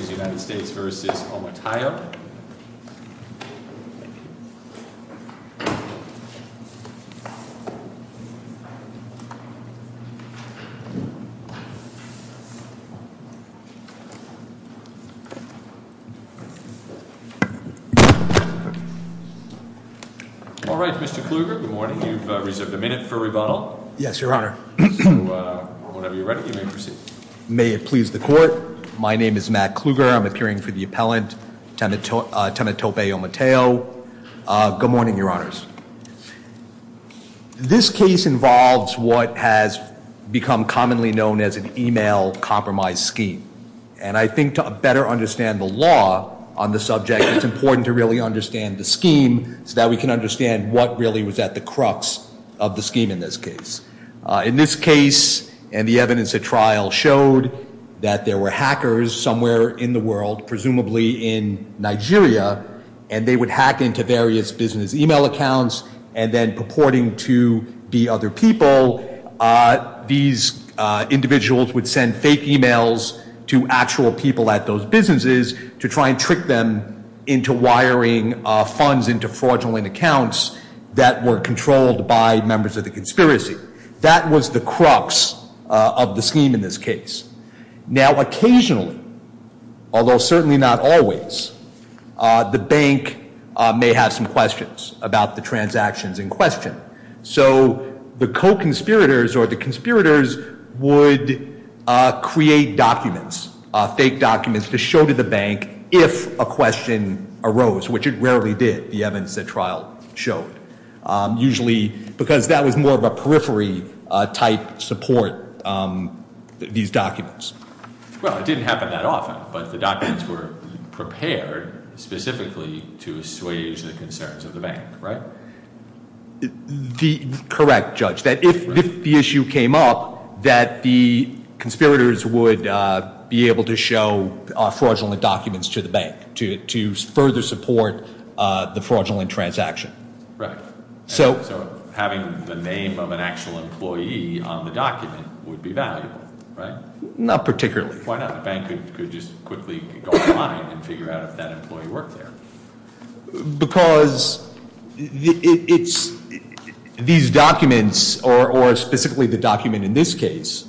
v. United States v. Omotayo. All right, Mr. Kluger, good morning. You've reserved a minute for rebuttal. Yes, Your Honor. So, whenever you're ready, you may proceed. May it please the Court. My name is Matt Kluger. I'm appearing for the appellant, Temetope Omotayo. Good morning, Your Honors. This case involves what has become commonly known as an email compromise scheme. And I think to better understand the law on the subject, it's important to really understand the scheme so that we can understand what really was at the crux of the scheme in this case. In this case, and the evidence at trial showed that there were hackers somewhere in the world, presumably in Nigeria, and they would hack into various business email accounts, and then purporting to be other people, these individuals would send fake emails to actual people at those businesses to try and trick them into wiring funds into fraudulent accounts that were controlled by members of the conspiracy. That was the crux of the scheme in this case. Now, occasionally, although certainly not always, the bank may have some questions about the transactions in question. So, the co-conspirators or the conspirators would create documents, fake documents, to show to the bank if a question arose, which it rarely did, the evidence at trial showed. Usually because that was more of a periphery type support, these documents. Well, it didn't happen that often, but the documents were prepared specifically to assuage the concerns of the bank, right? Correct, Judge. That if the issue came up, that the conspirators would be able to show fraudulent documents to the bank to further support the fraudulent transaction. Right. So- So, having the name of an actual employee on the document would be valuable, right? Not particularly. Why not? The bank could just quickly go online and figure out if that employee worked there. Because these documents, or specifically the document in this case,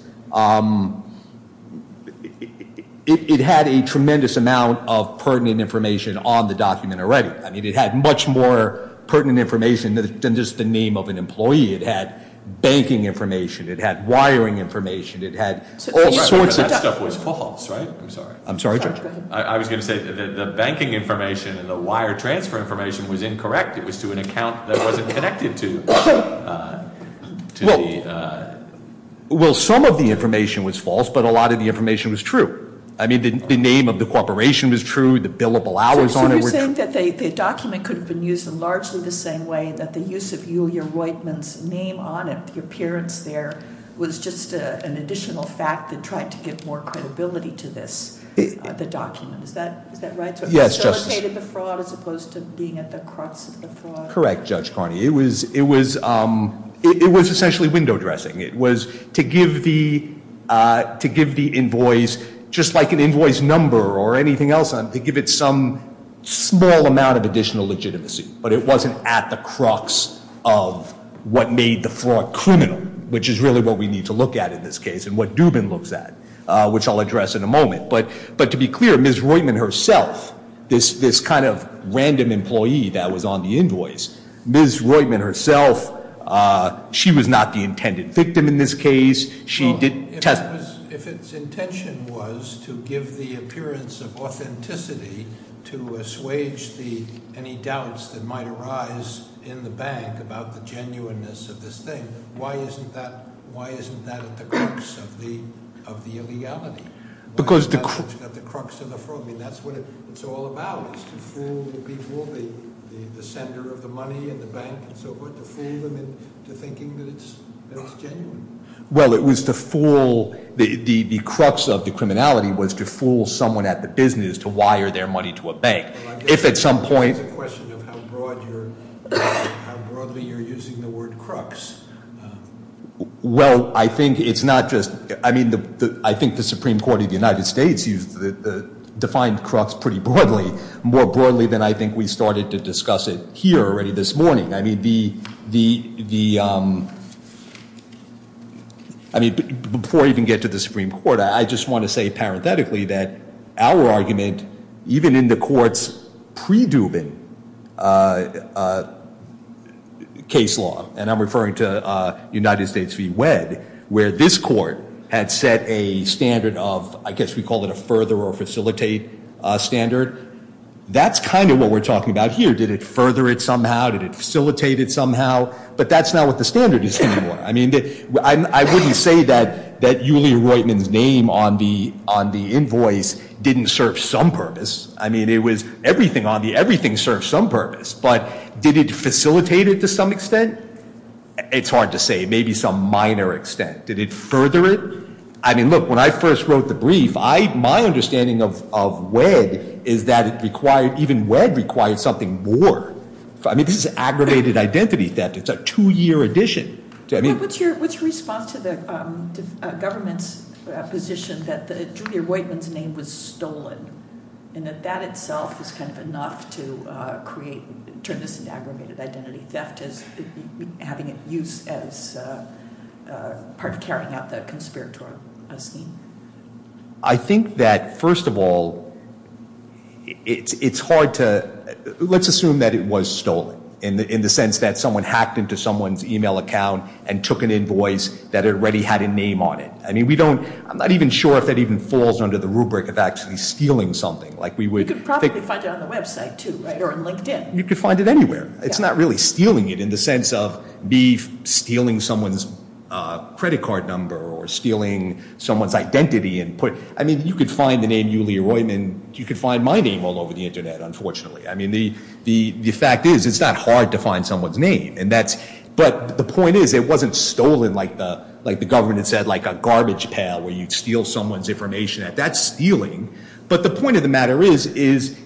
it had a tremendous amount of pertinent information on the document already. I mean, it had much more pertinent information than just the name of an employee. It had banking information. It had wiring information. It had all sorts of- But that stuff was false, right? I'm sorry. I'm sorry, Judge. Go ahead. I was going to say the banking information and the wire transfer information was incorrect. It was to an account that wasn't connected to the- Well, some of the information was false, but a lot of the information was true. I mean, the name of the corporation was true. The billable hours on it were true. So you're saying that the document could have been used in largely the same way, that the use of Yulia Roitman's name on it, the appearance there, was just an additional fact that tried to give more credibility to this, the document. Is that right? Yes, Justice. Facilitated the fraud as opposed to being at the crux of the fraud? Correct, Judge Carney. It was essentially window dressing. It was to give the invoice, just like an invoice number or anything else, to give it some small amount of additional legitimacy. But it wasn't at the crux of what made the fraud criminal, which is really what we need to look at in this case and what Dubin looks at, which I'll address in a moment. But to be clear, Ms. Roitman herself, this kind of random employee that was on the invoice, Ms. Roitman herself, she was not the intended victim in this case. If its intention was to give the appearance of authenticity to assuage any doubts that might arise in the bank about the genuineness of this thing, then why isn't that at the crux of the illegality? Because the crux of the fraud, I mean, that's what it's all about, is to fool people, the sender of the money and the bank and so forth, to fool them into thinking that it's genuine. Well, it was to fool, the crux of the criminality was to fool someone at the business to wire their money to a bank. If at some point- It's a question of how broadly you're using the word crux. Well, I think it's not just, I mean, I think the Supreme Court of the United States defined crux pretty broadly, more broadly than I think we started to discuss it here already this morning. I mean, before I even get to the Supreme Court, I just want to say parenthetically that our argument, even in the court's pre-Dubin case law, and I'm referring to United States v. Wed, where this court had set a standard of, I guess we call it a further or facilitate standard. That's kind of what we're talking about here. Did it further it somehow? Did it facilitate it somehow? But that's not what the standard is anymore. I mean, I wouldn't say that Yulia Roitman's name on the invoice didn't serve some purpose. I mean, it was everything on the, everything served some purpose. But did it facilitate it to some extent? It's hard to say, maybe some minor extent. Did it further it? I mean, look, when I first wrote the brief, my understanding of Wed is that it required, even Wed required something more. I mean, this is aggravated identity theft. It's a two-year addition. What's your response to the government's position that Yulia Roitman's name was stolen and that that itself is kind of enough to create, turn this into aggravated identity theft as having it used as part of carrying out the conspiratorial scheme? I think that, first of all, it's hard to, let's assume that it was stolen in the sense that someone hacked into someone's e-mail account and took an invoice that already had a name on it. I mean, we don't, I'm not even sure if that even falls under the rubric of actually stealing something. You could probably find it on the website too, right, or on LinkedIn. You could find it anywhere. It's not really stealing it in the sense of me stealing someone's credit card number or stealing someone's identity. I mean, you could find the name Yulia Roitman. You could find my name all over the Internet, unfortunately. I mean, the fact is it's not hard to find someone's name. But the point is it wasn't stolen like the government had said, like a garbage pile where you'd steal someone's information. That's stealing. But the point of the matter is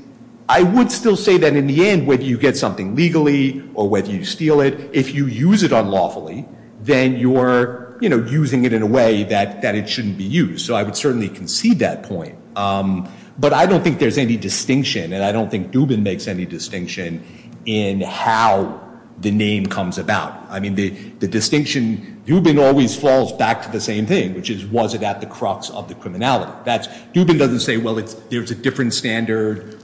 I would still say that in the end, whether you get something legally or whether you steal it, if you use it unlawfully, then you're using it in a way that it shouldn't be used. So I would certainly concede that point. But I don't think there's any distinction, and I don't think Dubin makes any distinction in how the name comes about. I mean, the distinction, Dubin always falls back to the same thing, which is was it at the crux of the criminality. Dubin doesn't say, well, there's a different standard.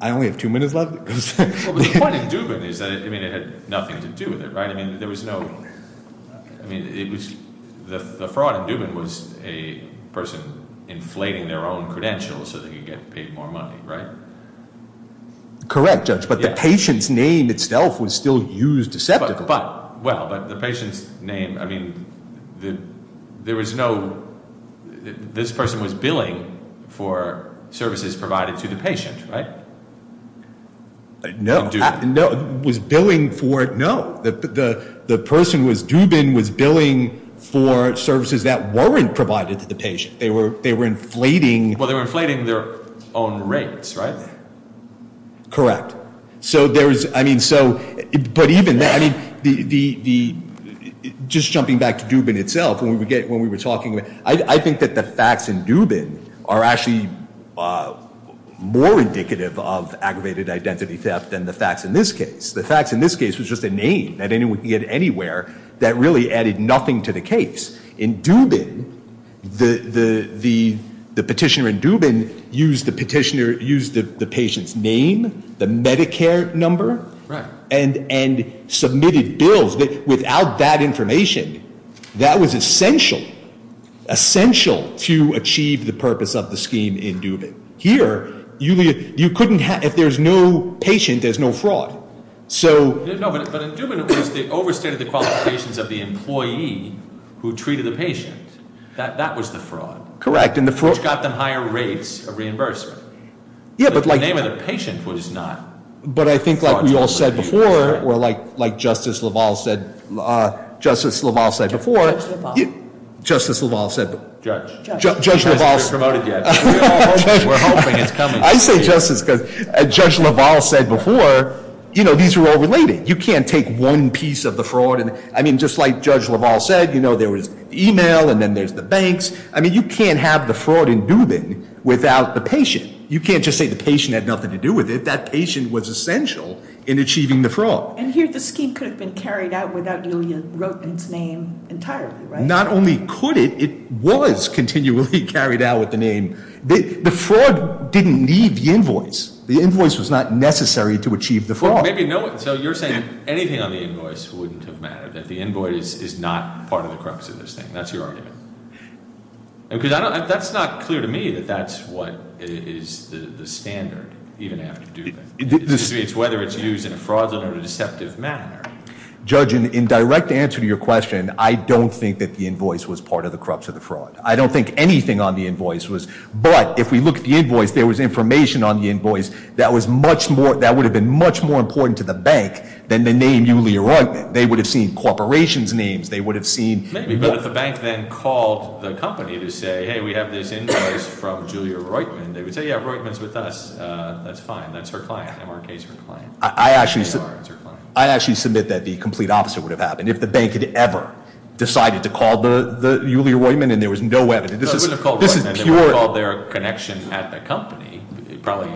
I only have two minutes left. Well, the point of Dubin is that it had nothing to do with it, right? I mean, there was no—I mean, it was— the fraud in Dubin was a person inflating their own credentials so they could get paid more money, right? Correct, Judge, but the patient's name itself was still used deceptively. Well, but the patient's name—I mean, there was no— No, was billing for—no. The person was—Dubin was billing for services that weren't provided to the patient. They were inflating— Well, they were inflating their own rates, right? Correct. So there was—I mean, so—but even—I mean, the—just jumping back to Dubin itself, when we were talking about—I think that the facts in Dubin are actually more indicative of aggravated identity theft than the facts in this case. The facts in this case was just a name that anyone could get anywhere that really added nothing to the case. In Dubin, the petitioner in Dubin used the petitioner—used the patient's name, the Medicare number, and submitted bills. Without that information, that was essential— essential to achieve the purpose of the scheme in Dubin. Here, you couldn't have—if there's no patient, there's no fraud. So— No, but in Dubin, it was the overstated qualifications of the employee who treated the patient. That was the fraud. Correct, and the fraud— Which got them higher rates of reimbursement. Yeah, but like— The name of the patient was not fraudulently— But I think like we all said before, or like Justice LaValle said— Justice LaValle said before— Judge LaValle. Justice LaValle said— Judge. Judge LaValle said— We're hoping it's coming soon. I say Justice because Judge LaValle said before, you know, these are all related. You can't take one piece of the fraud and—I mean, just like Judge LaValle said, you know, there was email and then there's the banks. I mean, you can't have the fraud in Dubin without the patient. You can't just say the patient had nothing to do with it. That patient was essential in achieving the fraud. And here, the scheme could have been carried out without Julia Rothman's name entirely, right? Not only could it, it was continually carried out with the name. The fraud didn't need the invoice. The invoice was not necessary to achieve the fraud. Well, maybe no—so you're saying anything on the invoice wouldn't have mattered, that the invoice is not part of the crux of this thing. That's your argument. Because I don't—that's not clear to me that that's what is the standard, even after Dubin. It's whether it's used in a fraudulent or a deceptive manner. Judge, in direct answer to your question, I don't think that the invoice was part of the crux of the fraud. I don't think anything on the invoice was. But if we look at the invoice, there was information on the invoice that was much more— that would have been much more important to the bank than the name Julia Rothman. They would have seen corporations' names. They would have seen— Maybe, but if the bank then called the company to say, hey, we have this invoice from Julia Rothman, they would say, yeah, Rothman's with us. That's fine. That's her client. MRK's her client. I actually submit that the complete opposite would have happened. If the bank had ever decided to call Julia Rothman and there was no evidence. They would have called their connection at the company. It probably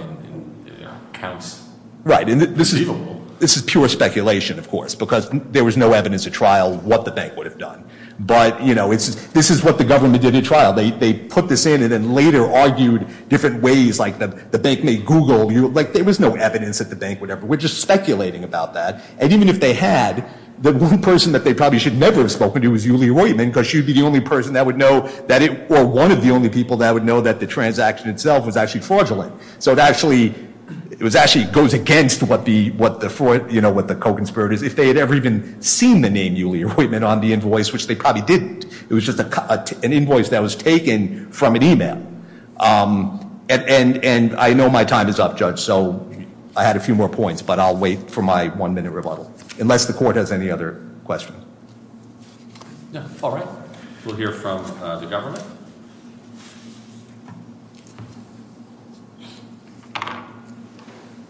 counts. Right. This is pure speculation, of course, because there was no evidence at trial what the bank would have done. But, you know, this is what the government did at trial. They put this in and then later argued different ways. Like the bank made Google. Like there was no evidence that the bank would ever—we're just speculating about that. And even if they had, the one person that they probably should never have spoken to was Julia Rothman because she would be the only person that would know that it—or one of the only people that would know that the transaction itself was actually fraudulent. So it actually goes against what the co-conspirators— if they had ever even seen the name Julia Rothman on the invoice, which they probably didn't. It was just an invoice that was taken from an email. And I know my time is up, Judge, so I had a few more points, but I'll wait for my one-minute rebuttal, unless the court has any other questions. All right. We'll hear from the government.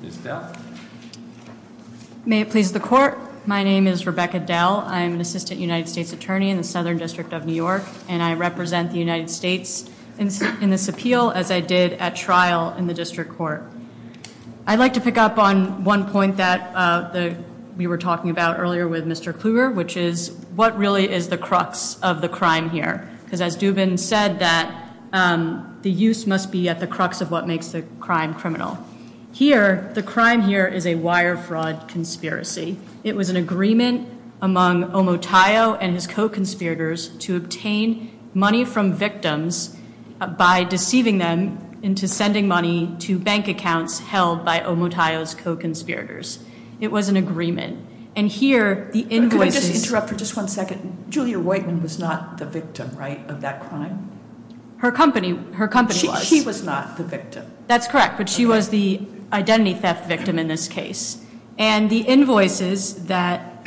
Ms. Dell. May it please the court. My name is Rebecca Dell. I'm an assistant United States attorney in the Southern District of New York, and I represent the United States in this appeal as I did at trial in the district court. I'd like to pick up on one point that we were talking about earlier with Mr. Kluger, which is what really is the crux of the crime here? Because as Dubin said, the use must be at the crux of what makes the crime criminal. Here, the crime here is a wire fraud conspiracy. It was an agreement among Omotayo and his co-conspirators to obtain money from victims by deceiving them into sending money to bank accounts held by Omotayo's co-conspirators. It was an agreement. And here the invoices- Could I just interrupt for just one second? Julia Roitman was not the victim, right, of that crime? Her company was. She was not the victim. That's correct, but she was the identity theft victim in this case. And the invoices that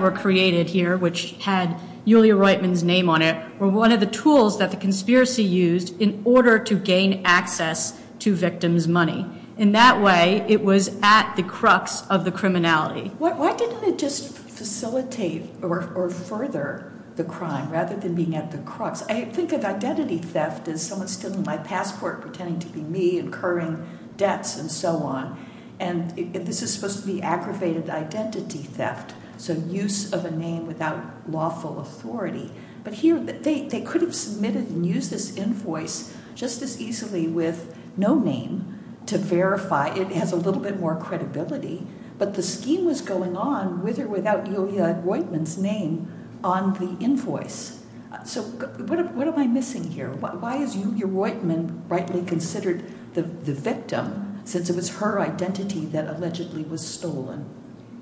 were created here, which had Julia Roitman's name on it, were one of the tools that the conspiracy used in order to gain access to victims' money. In that way, it was at the crux of the criminality. Why didn't it just facilitate or further the crime rather than being at the crux? I think of identity theft as someone stealing my passport, pretending to be me, incurring debts, and so on. And this is supposed to be aggravated identity theft, so use of a name without lawful authority. But here they could have submitted and used this invoice just as easily with no name to verify. It has a little bit more credibility. But the scheme was going on with or without Julia Roitman's name on the invoice. So what am I missing here? Why is Julia Roitman rightly considered the victim since it was her identity that allegedly was stolen?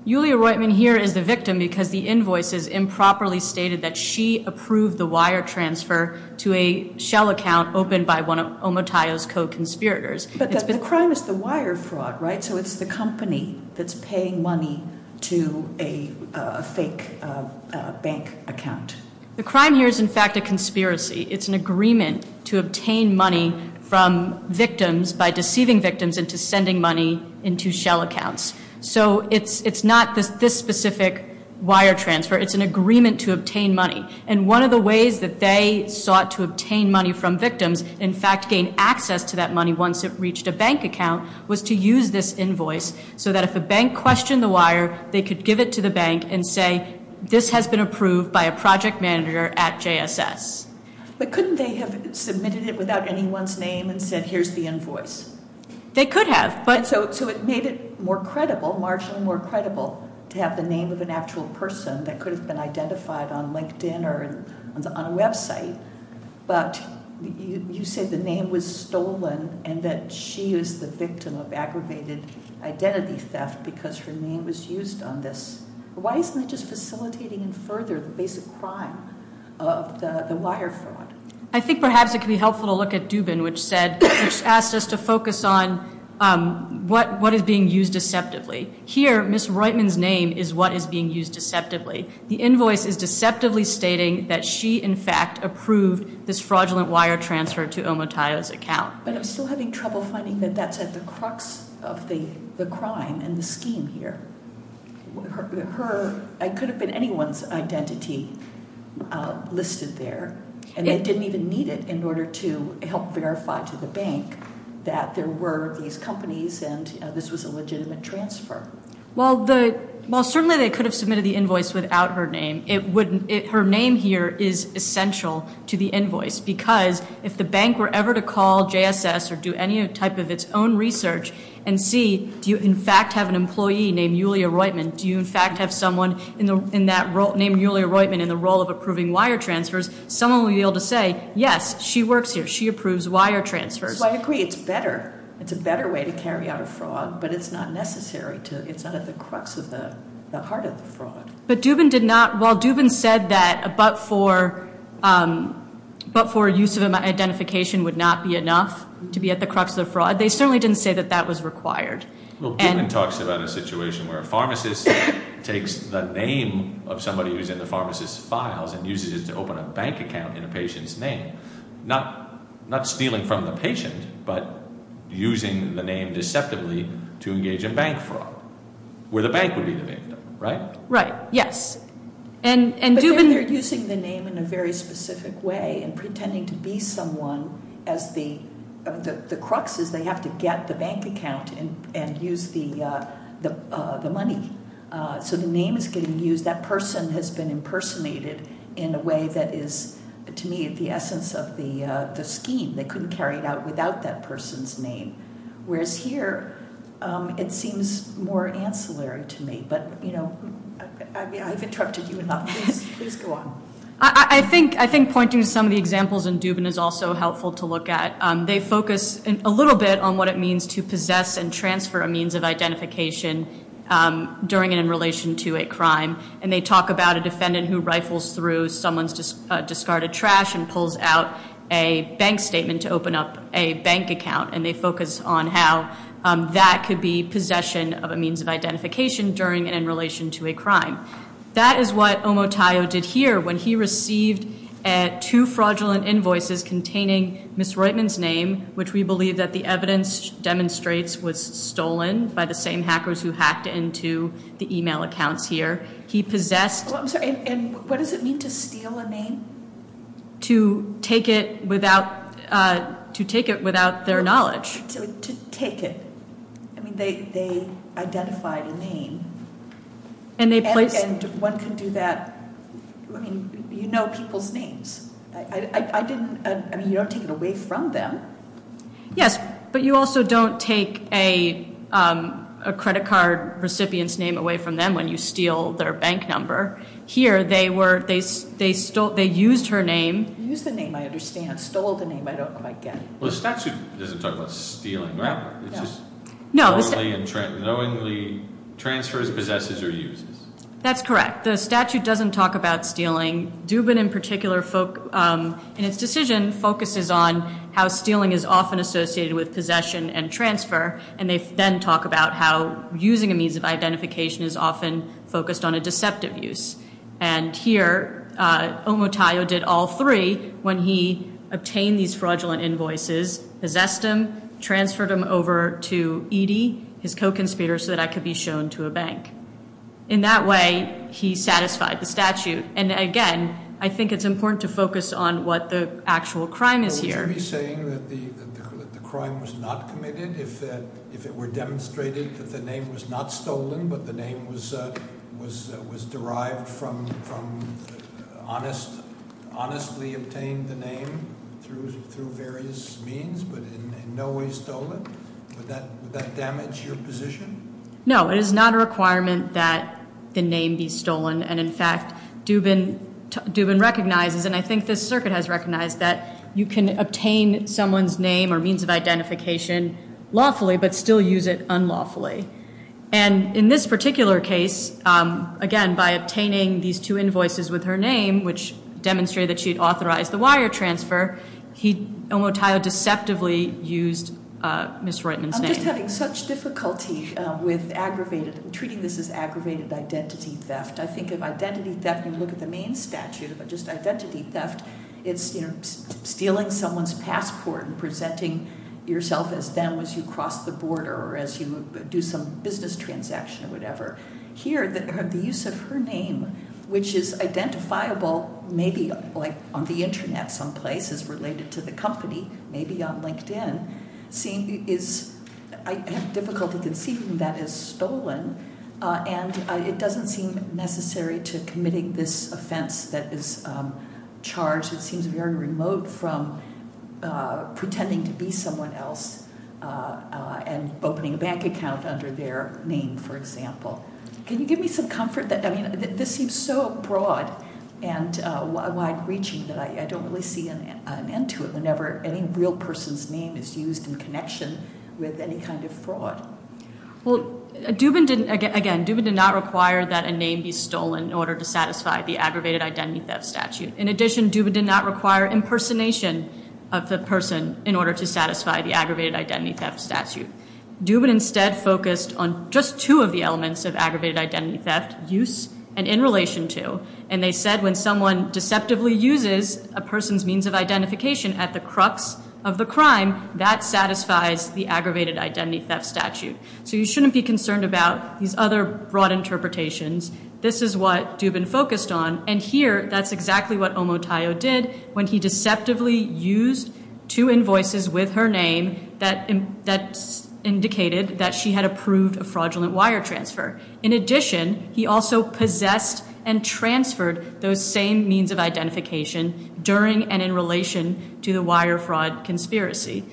Julia Roitman here is the victim because the invoices improperly stated that she approved the wire transfer to a shell account opened by one of Omotayo's co-conspirators. But the crime is the wire fraud, right? So it's the company that's paying money to a fake bank account. The crime here is, in fact, a conspiracy. It's an agreement to obtain money from victims by deceiving victims into sending money into shell accounts. So it's not this specific wire transfer. It's an agreement to obtain money. And one of the ways that they sought to obtain money from victims, in fact gain access to that money once it reached a bank account, was to use this invoice so that if a bank questioned the wire, they could give it to the bank and say, this has been approved by a project manager at JSS. But couldn't they have submitted it without anyone's name and said, here's the invoice? They could have. So it made it more credible, marginally more credible, to have the name of an actual person that could have been identified on LinkedIn or on a website. But you say the name was stolen and that she is the victim of aggravated identity theft because her name was used on this. Why isn't it just facilitating and further the basic crime of the wire fraud? I think perhaps it could be helpful to look at Dubin, which asked us to focus on what is being used deceptively. Here, Ms. Reutman's name is what is being used deceptively. The invoice is deceptively stating that she, in fact, approved this fraudulent wire transfer to Omotayo's account. But I'm still having trouble finding that that's at the crux of the crime and the scheme here. Her, it could have been anyone's identity listed there. And they didn't even need it in order to help verify to the bank that there were these companies and this was a legitimate transfer. Well, certainly they could have submitted the invoice without her name. Her name here is essential to the invoice because if the bank were ever to call JSS or do any type of its own research and see, do you, in fact, have an employee named Yulia Reutman? Do you, in fact, have someone named Yulia Reutman in the role of approving wire transfers? Someone would be able to say, yes, she works here. She approves wire transfers. So I agree, it's better. It's a better way to carry out a fraud, but it's not necessary to, it's not at the crux of the heart of the fraud. But Dubin did not, while Dubin said that a but for use of identification would not be enough to be at the crux of the fraud, they certainly didn't say that that was required. Well, Dubin talks about a situation where a pharmacist takes the name of somebody who's in the pharmacist's files and uses it to open a bank account in a patient's name, not stealing from the patient, but using the name deceptively to engage in bank fraud, where the bank would be the victim, right? Right, yes. And Dubin- To be someone, the crux is they have to get the bank account and use the money. So the name is getting used. That person has been impersonated in a way that is, to me, the essence of the scheme, they couldn't carry it out without that person's name. Whereas here, it seems more ancillary to me. But I've interrupted you enough, please go on. I think pointing to some of the examples in Dubin is also helpful to look at. They focus a little bit on what it means to possess and transfer a means of identification during and in relation to a crime. And they talk about a defendant who rifles through someone's discarded trash and pulls out a bank statement to open up a bank account. And they focus on how that could be possession of a means of identification during and in relation to a crime. That is what Omotayo did here, when he received two fraudulent invoices containing Ms. Reutemann's name, which we believe that the evidence demonstrates was stolen by the same hackers who hacked into the email accounts here. He possessed- I'm sorry, and what does it mean to steal a name? To take it without their knowledge. And one can do that, I mean, you know people's names. I didn't, I mean, you don't take it away from them. Yes, but you also don't take a credit card recipient's name away from them when you steal their bank number. Here, they used her name. Used the name, I understand. Stole the name, I don't quite get it. Well, the statute doesn't talk about stealing, right? It's just knowingly transfers, possesses, or uses. That's correct. The statute doesn't talk about stealing. Dubin in particular, in its decision, focuses on how stealing is often associated with possession and transfer. And they then talk about how using a means of identification is often focused on a deceptive use. And here, Omotayo did all three when he obtained these fraudulent invoices, possessed them, transferred them over to Edy, his co-conspirator, so that I could be shown to a bank. In that way, he satisfied the statute. And again, I think it's important to focus on what the actual crime is here. Would you be saying that the crime was not committed if it were demonstrated that the name was not stolen, but the name was derived from honestly obtained the name through various means, but in no way stolen? Would that damage your position? No, it is not a requirement that the name be stolen. And in fact, Dubin recognizes, and I think this circuit has recognized, that you can obtain someone's name or means of identification lawfully, but still use it unlawfully. And in this particular case, again, by obtaining these two invoices with her name, which demonstrated that she'd authorized the wire transfer, Omotayo deceptively used Ms. Reutemann's name. I'm just having such difficulty with treating this as aggravated identity theft. I think of identity theft when you look at the main statute, but just identity theft, it's stealing someone's passport and presenting yourself as them as you cross the border or as you do some business transaction or whatever. Here, the use of her name, which is identifiable maybe on the Internet someplace, is related to the company, maybe on LinkedIn, I have difficulty conceiving that as stolen. And it doesn't seem necessary to committing this offense that is charged. It seems very remote from pretending to be someone else and can you give me some comfort that, I mean, this seems so broad and wide reaching that I don't really see an end to it. Whenever any real person's name is used in connection with any kind of fraud. Well, Dubin did, again, Dubin did not require that a name be stolen in order to satisfy the aggravated identity theft statute. In addition, Dubin did not require impersonation of the person in order to satisfy the aggravated identity theft statute. Dubin instead focused on just two of the elements of aggravated identity theft, use and in relation to. And they said when someone deceptively uses a person's means of identification at the crux of the crime, that satisfies the aggravated identity theft statute. So you shouldn't be concerned about these other broad interpretations. This is what Dubin focused on. And here, that's exactly what Omotayo did when he deceptively used two invoices with her name that indicated that she had approved a fraudulent wire transfer. In addition, he also possessed and transferred those same means of identification during and in relation to the wire fraud conspiracy.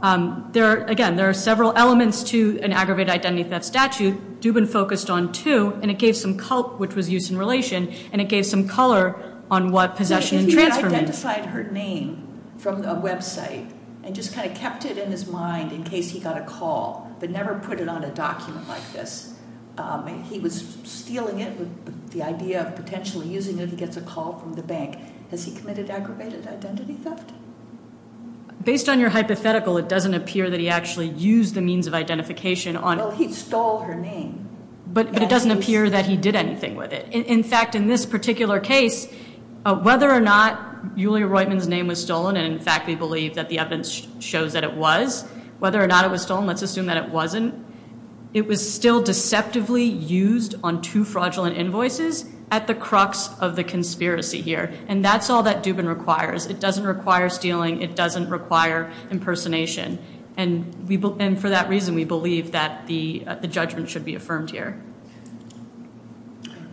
There are, again, there are several elements to an aggravated identity theft statute. Dubin focused on two, and it gave some, which was use in relation, and it gave some color on what possession and transfer means. He identified her name from a website and just kind of kept it in his mind in case he got a call, but never put it on a document like this. He was stealing it with the idea of potentially using it if he gets a call from the bank. Has he committed aggravated identity theft? Based on your hypothetical, it doesn't appear that he actually used the means of identification on- Well, he stole her name. But it doesn't appear that he did anything with it. In fact, in this particular case, whether or not Julia Roitman's name was stolen, and in fact, we believe that the evidence shows that it was, whether or not it was stolen, let's assume that it wasn't. It was still deceptively used on two fraudulent invoices at the crux of the conspiracy here. And that's all that Dubin requires. It doesn't require stealing. It doesn't require impersonation. And for that reason, we believe that the judgment should be affirmed here.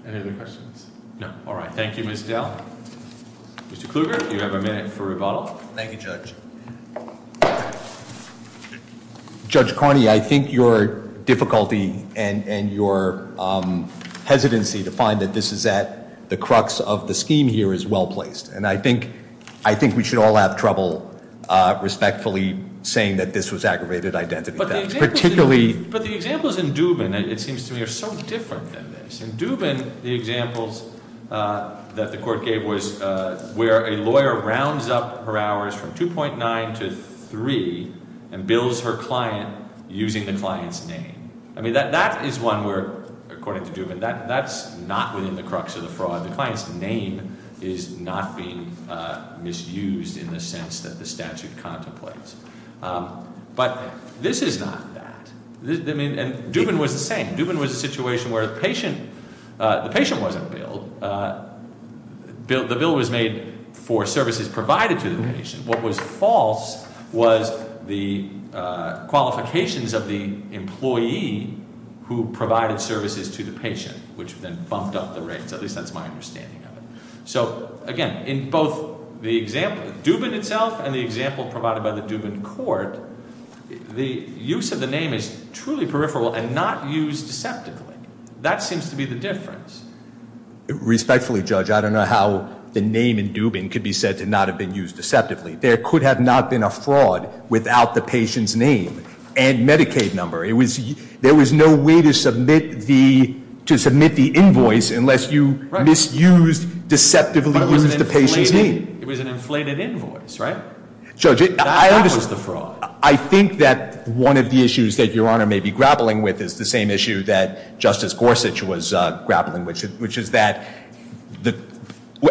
Any other questions? No. All right. Thank you, Ms. Dell. Mr. Kluger, you have a minute for rebuttal. Thank you, Judge. Judge Carney, I think your difficulty and your hesitancy to find that this is at the crux of the scheme here is well placed. And I think we should all have trouble respectfully saying that this was aggravated identity theft. Particularly- But the examples in Dubin, it seems to me, are so different than this. In Dubin, the examples that the court gave was where a lawyer rounds up her hours from 2.9 to 3. And bills her client using the client's name. I mean, that is one where, according to Dubin, that's not within the crux of the fraud. The client's name is not being misused in the sense that the statute contemplates. But this is not that. I mean, and Dubin was the same. Dubin was a situation where the patient wasn't billed, the bill was made for services provided to the patient. What was false was the qualifications of the employee who provided services to the patient, which then bumped up the rates, at least that's my understanding of it. So again, in both the example, Dubin itself and the example provided by the Dubin court, the use of the name is truly peripheral and not used deceptively. That seems to be the difference. Respectfully, Judge, I don't know how the name in Dubin could be said to not have been used deceptively. There could have not been a fraud without the patient's name and Medicaid number. There was no way to submit the invoice unless you misused, deceptively used the patient's name. It was an inflated invoice, right? That was the fraud. I think that one of the issues that Your Honor may be grappling with is the same issue that Justice Gorsuch was grappling with, which is that,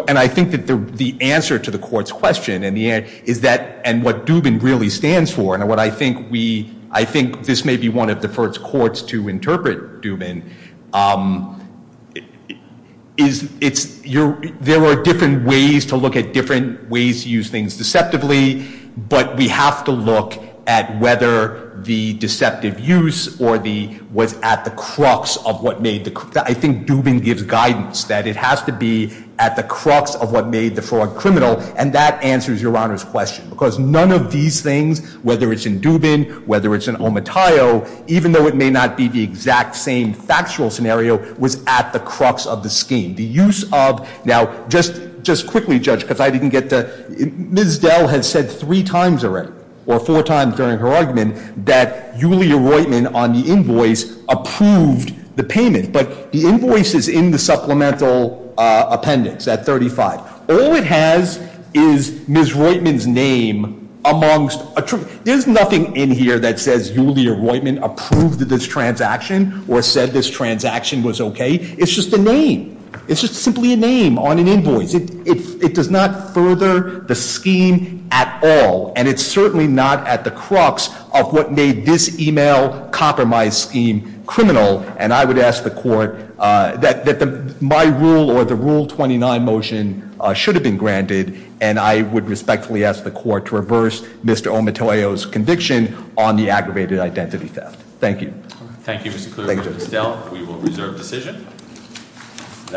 and I think that the answer to the court's question is that, and what Dubin really stands for, and what I think we, I think this may be one of the first courts to interpret Dubin, is there are different ways to look at different ways to use things deceptively, but we have to look at whether the deceptive use or the, was at the crux of what made the, I think Dubin gives guidance that it has to be at the crux of what made the fraud criminal, and that answers Your Honor's question. Because none of these things, whether it's in Dubin, whether it's in Omatayo, even though it may not be the exact same factual scenario, was at the crux of the scheme. The use of, now, just quickly, Judge, because I didn't get to, Ms. Dell has said three times already, or four times during her argument, that Julia Roitman on the invoice approved the payment. But the invoice is in the supplemental appendix at 35. All it has is Ms. Roitman's name amongst, there's nothing in here that says Julia Roitman approved this transaction or said this transaction was okay. It's just a name. It's just simply a name on an invoice. It does not further the scheme at all, and it's certainly not at the crux of what made this email compromise scheme criminal. And I would ask the court that my rule or the Rule 29 motion should have been granted, and I would respectfully ask the court to reverse Mr. Omatayo's conviction on the aggravated identity theft. Thank you. Thank you, Mr. Cleaver and Ms. Dell. We will reserve decision.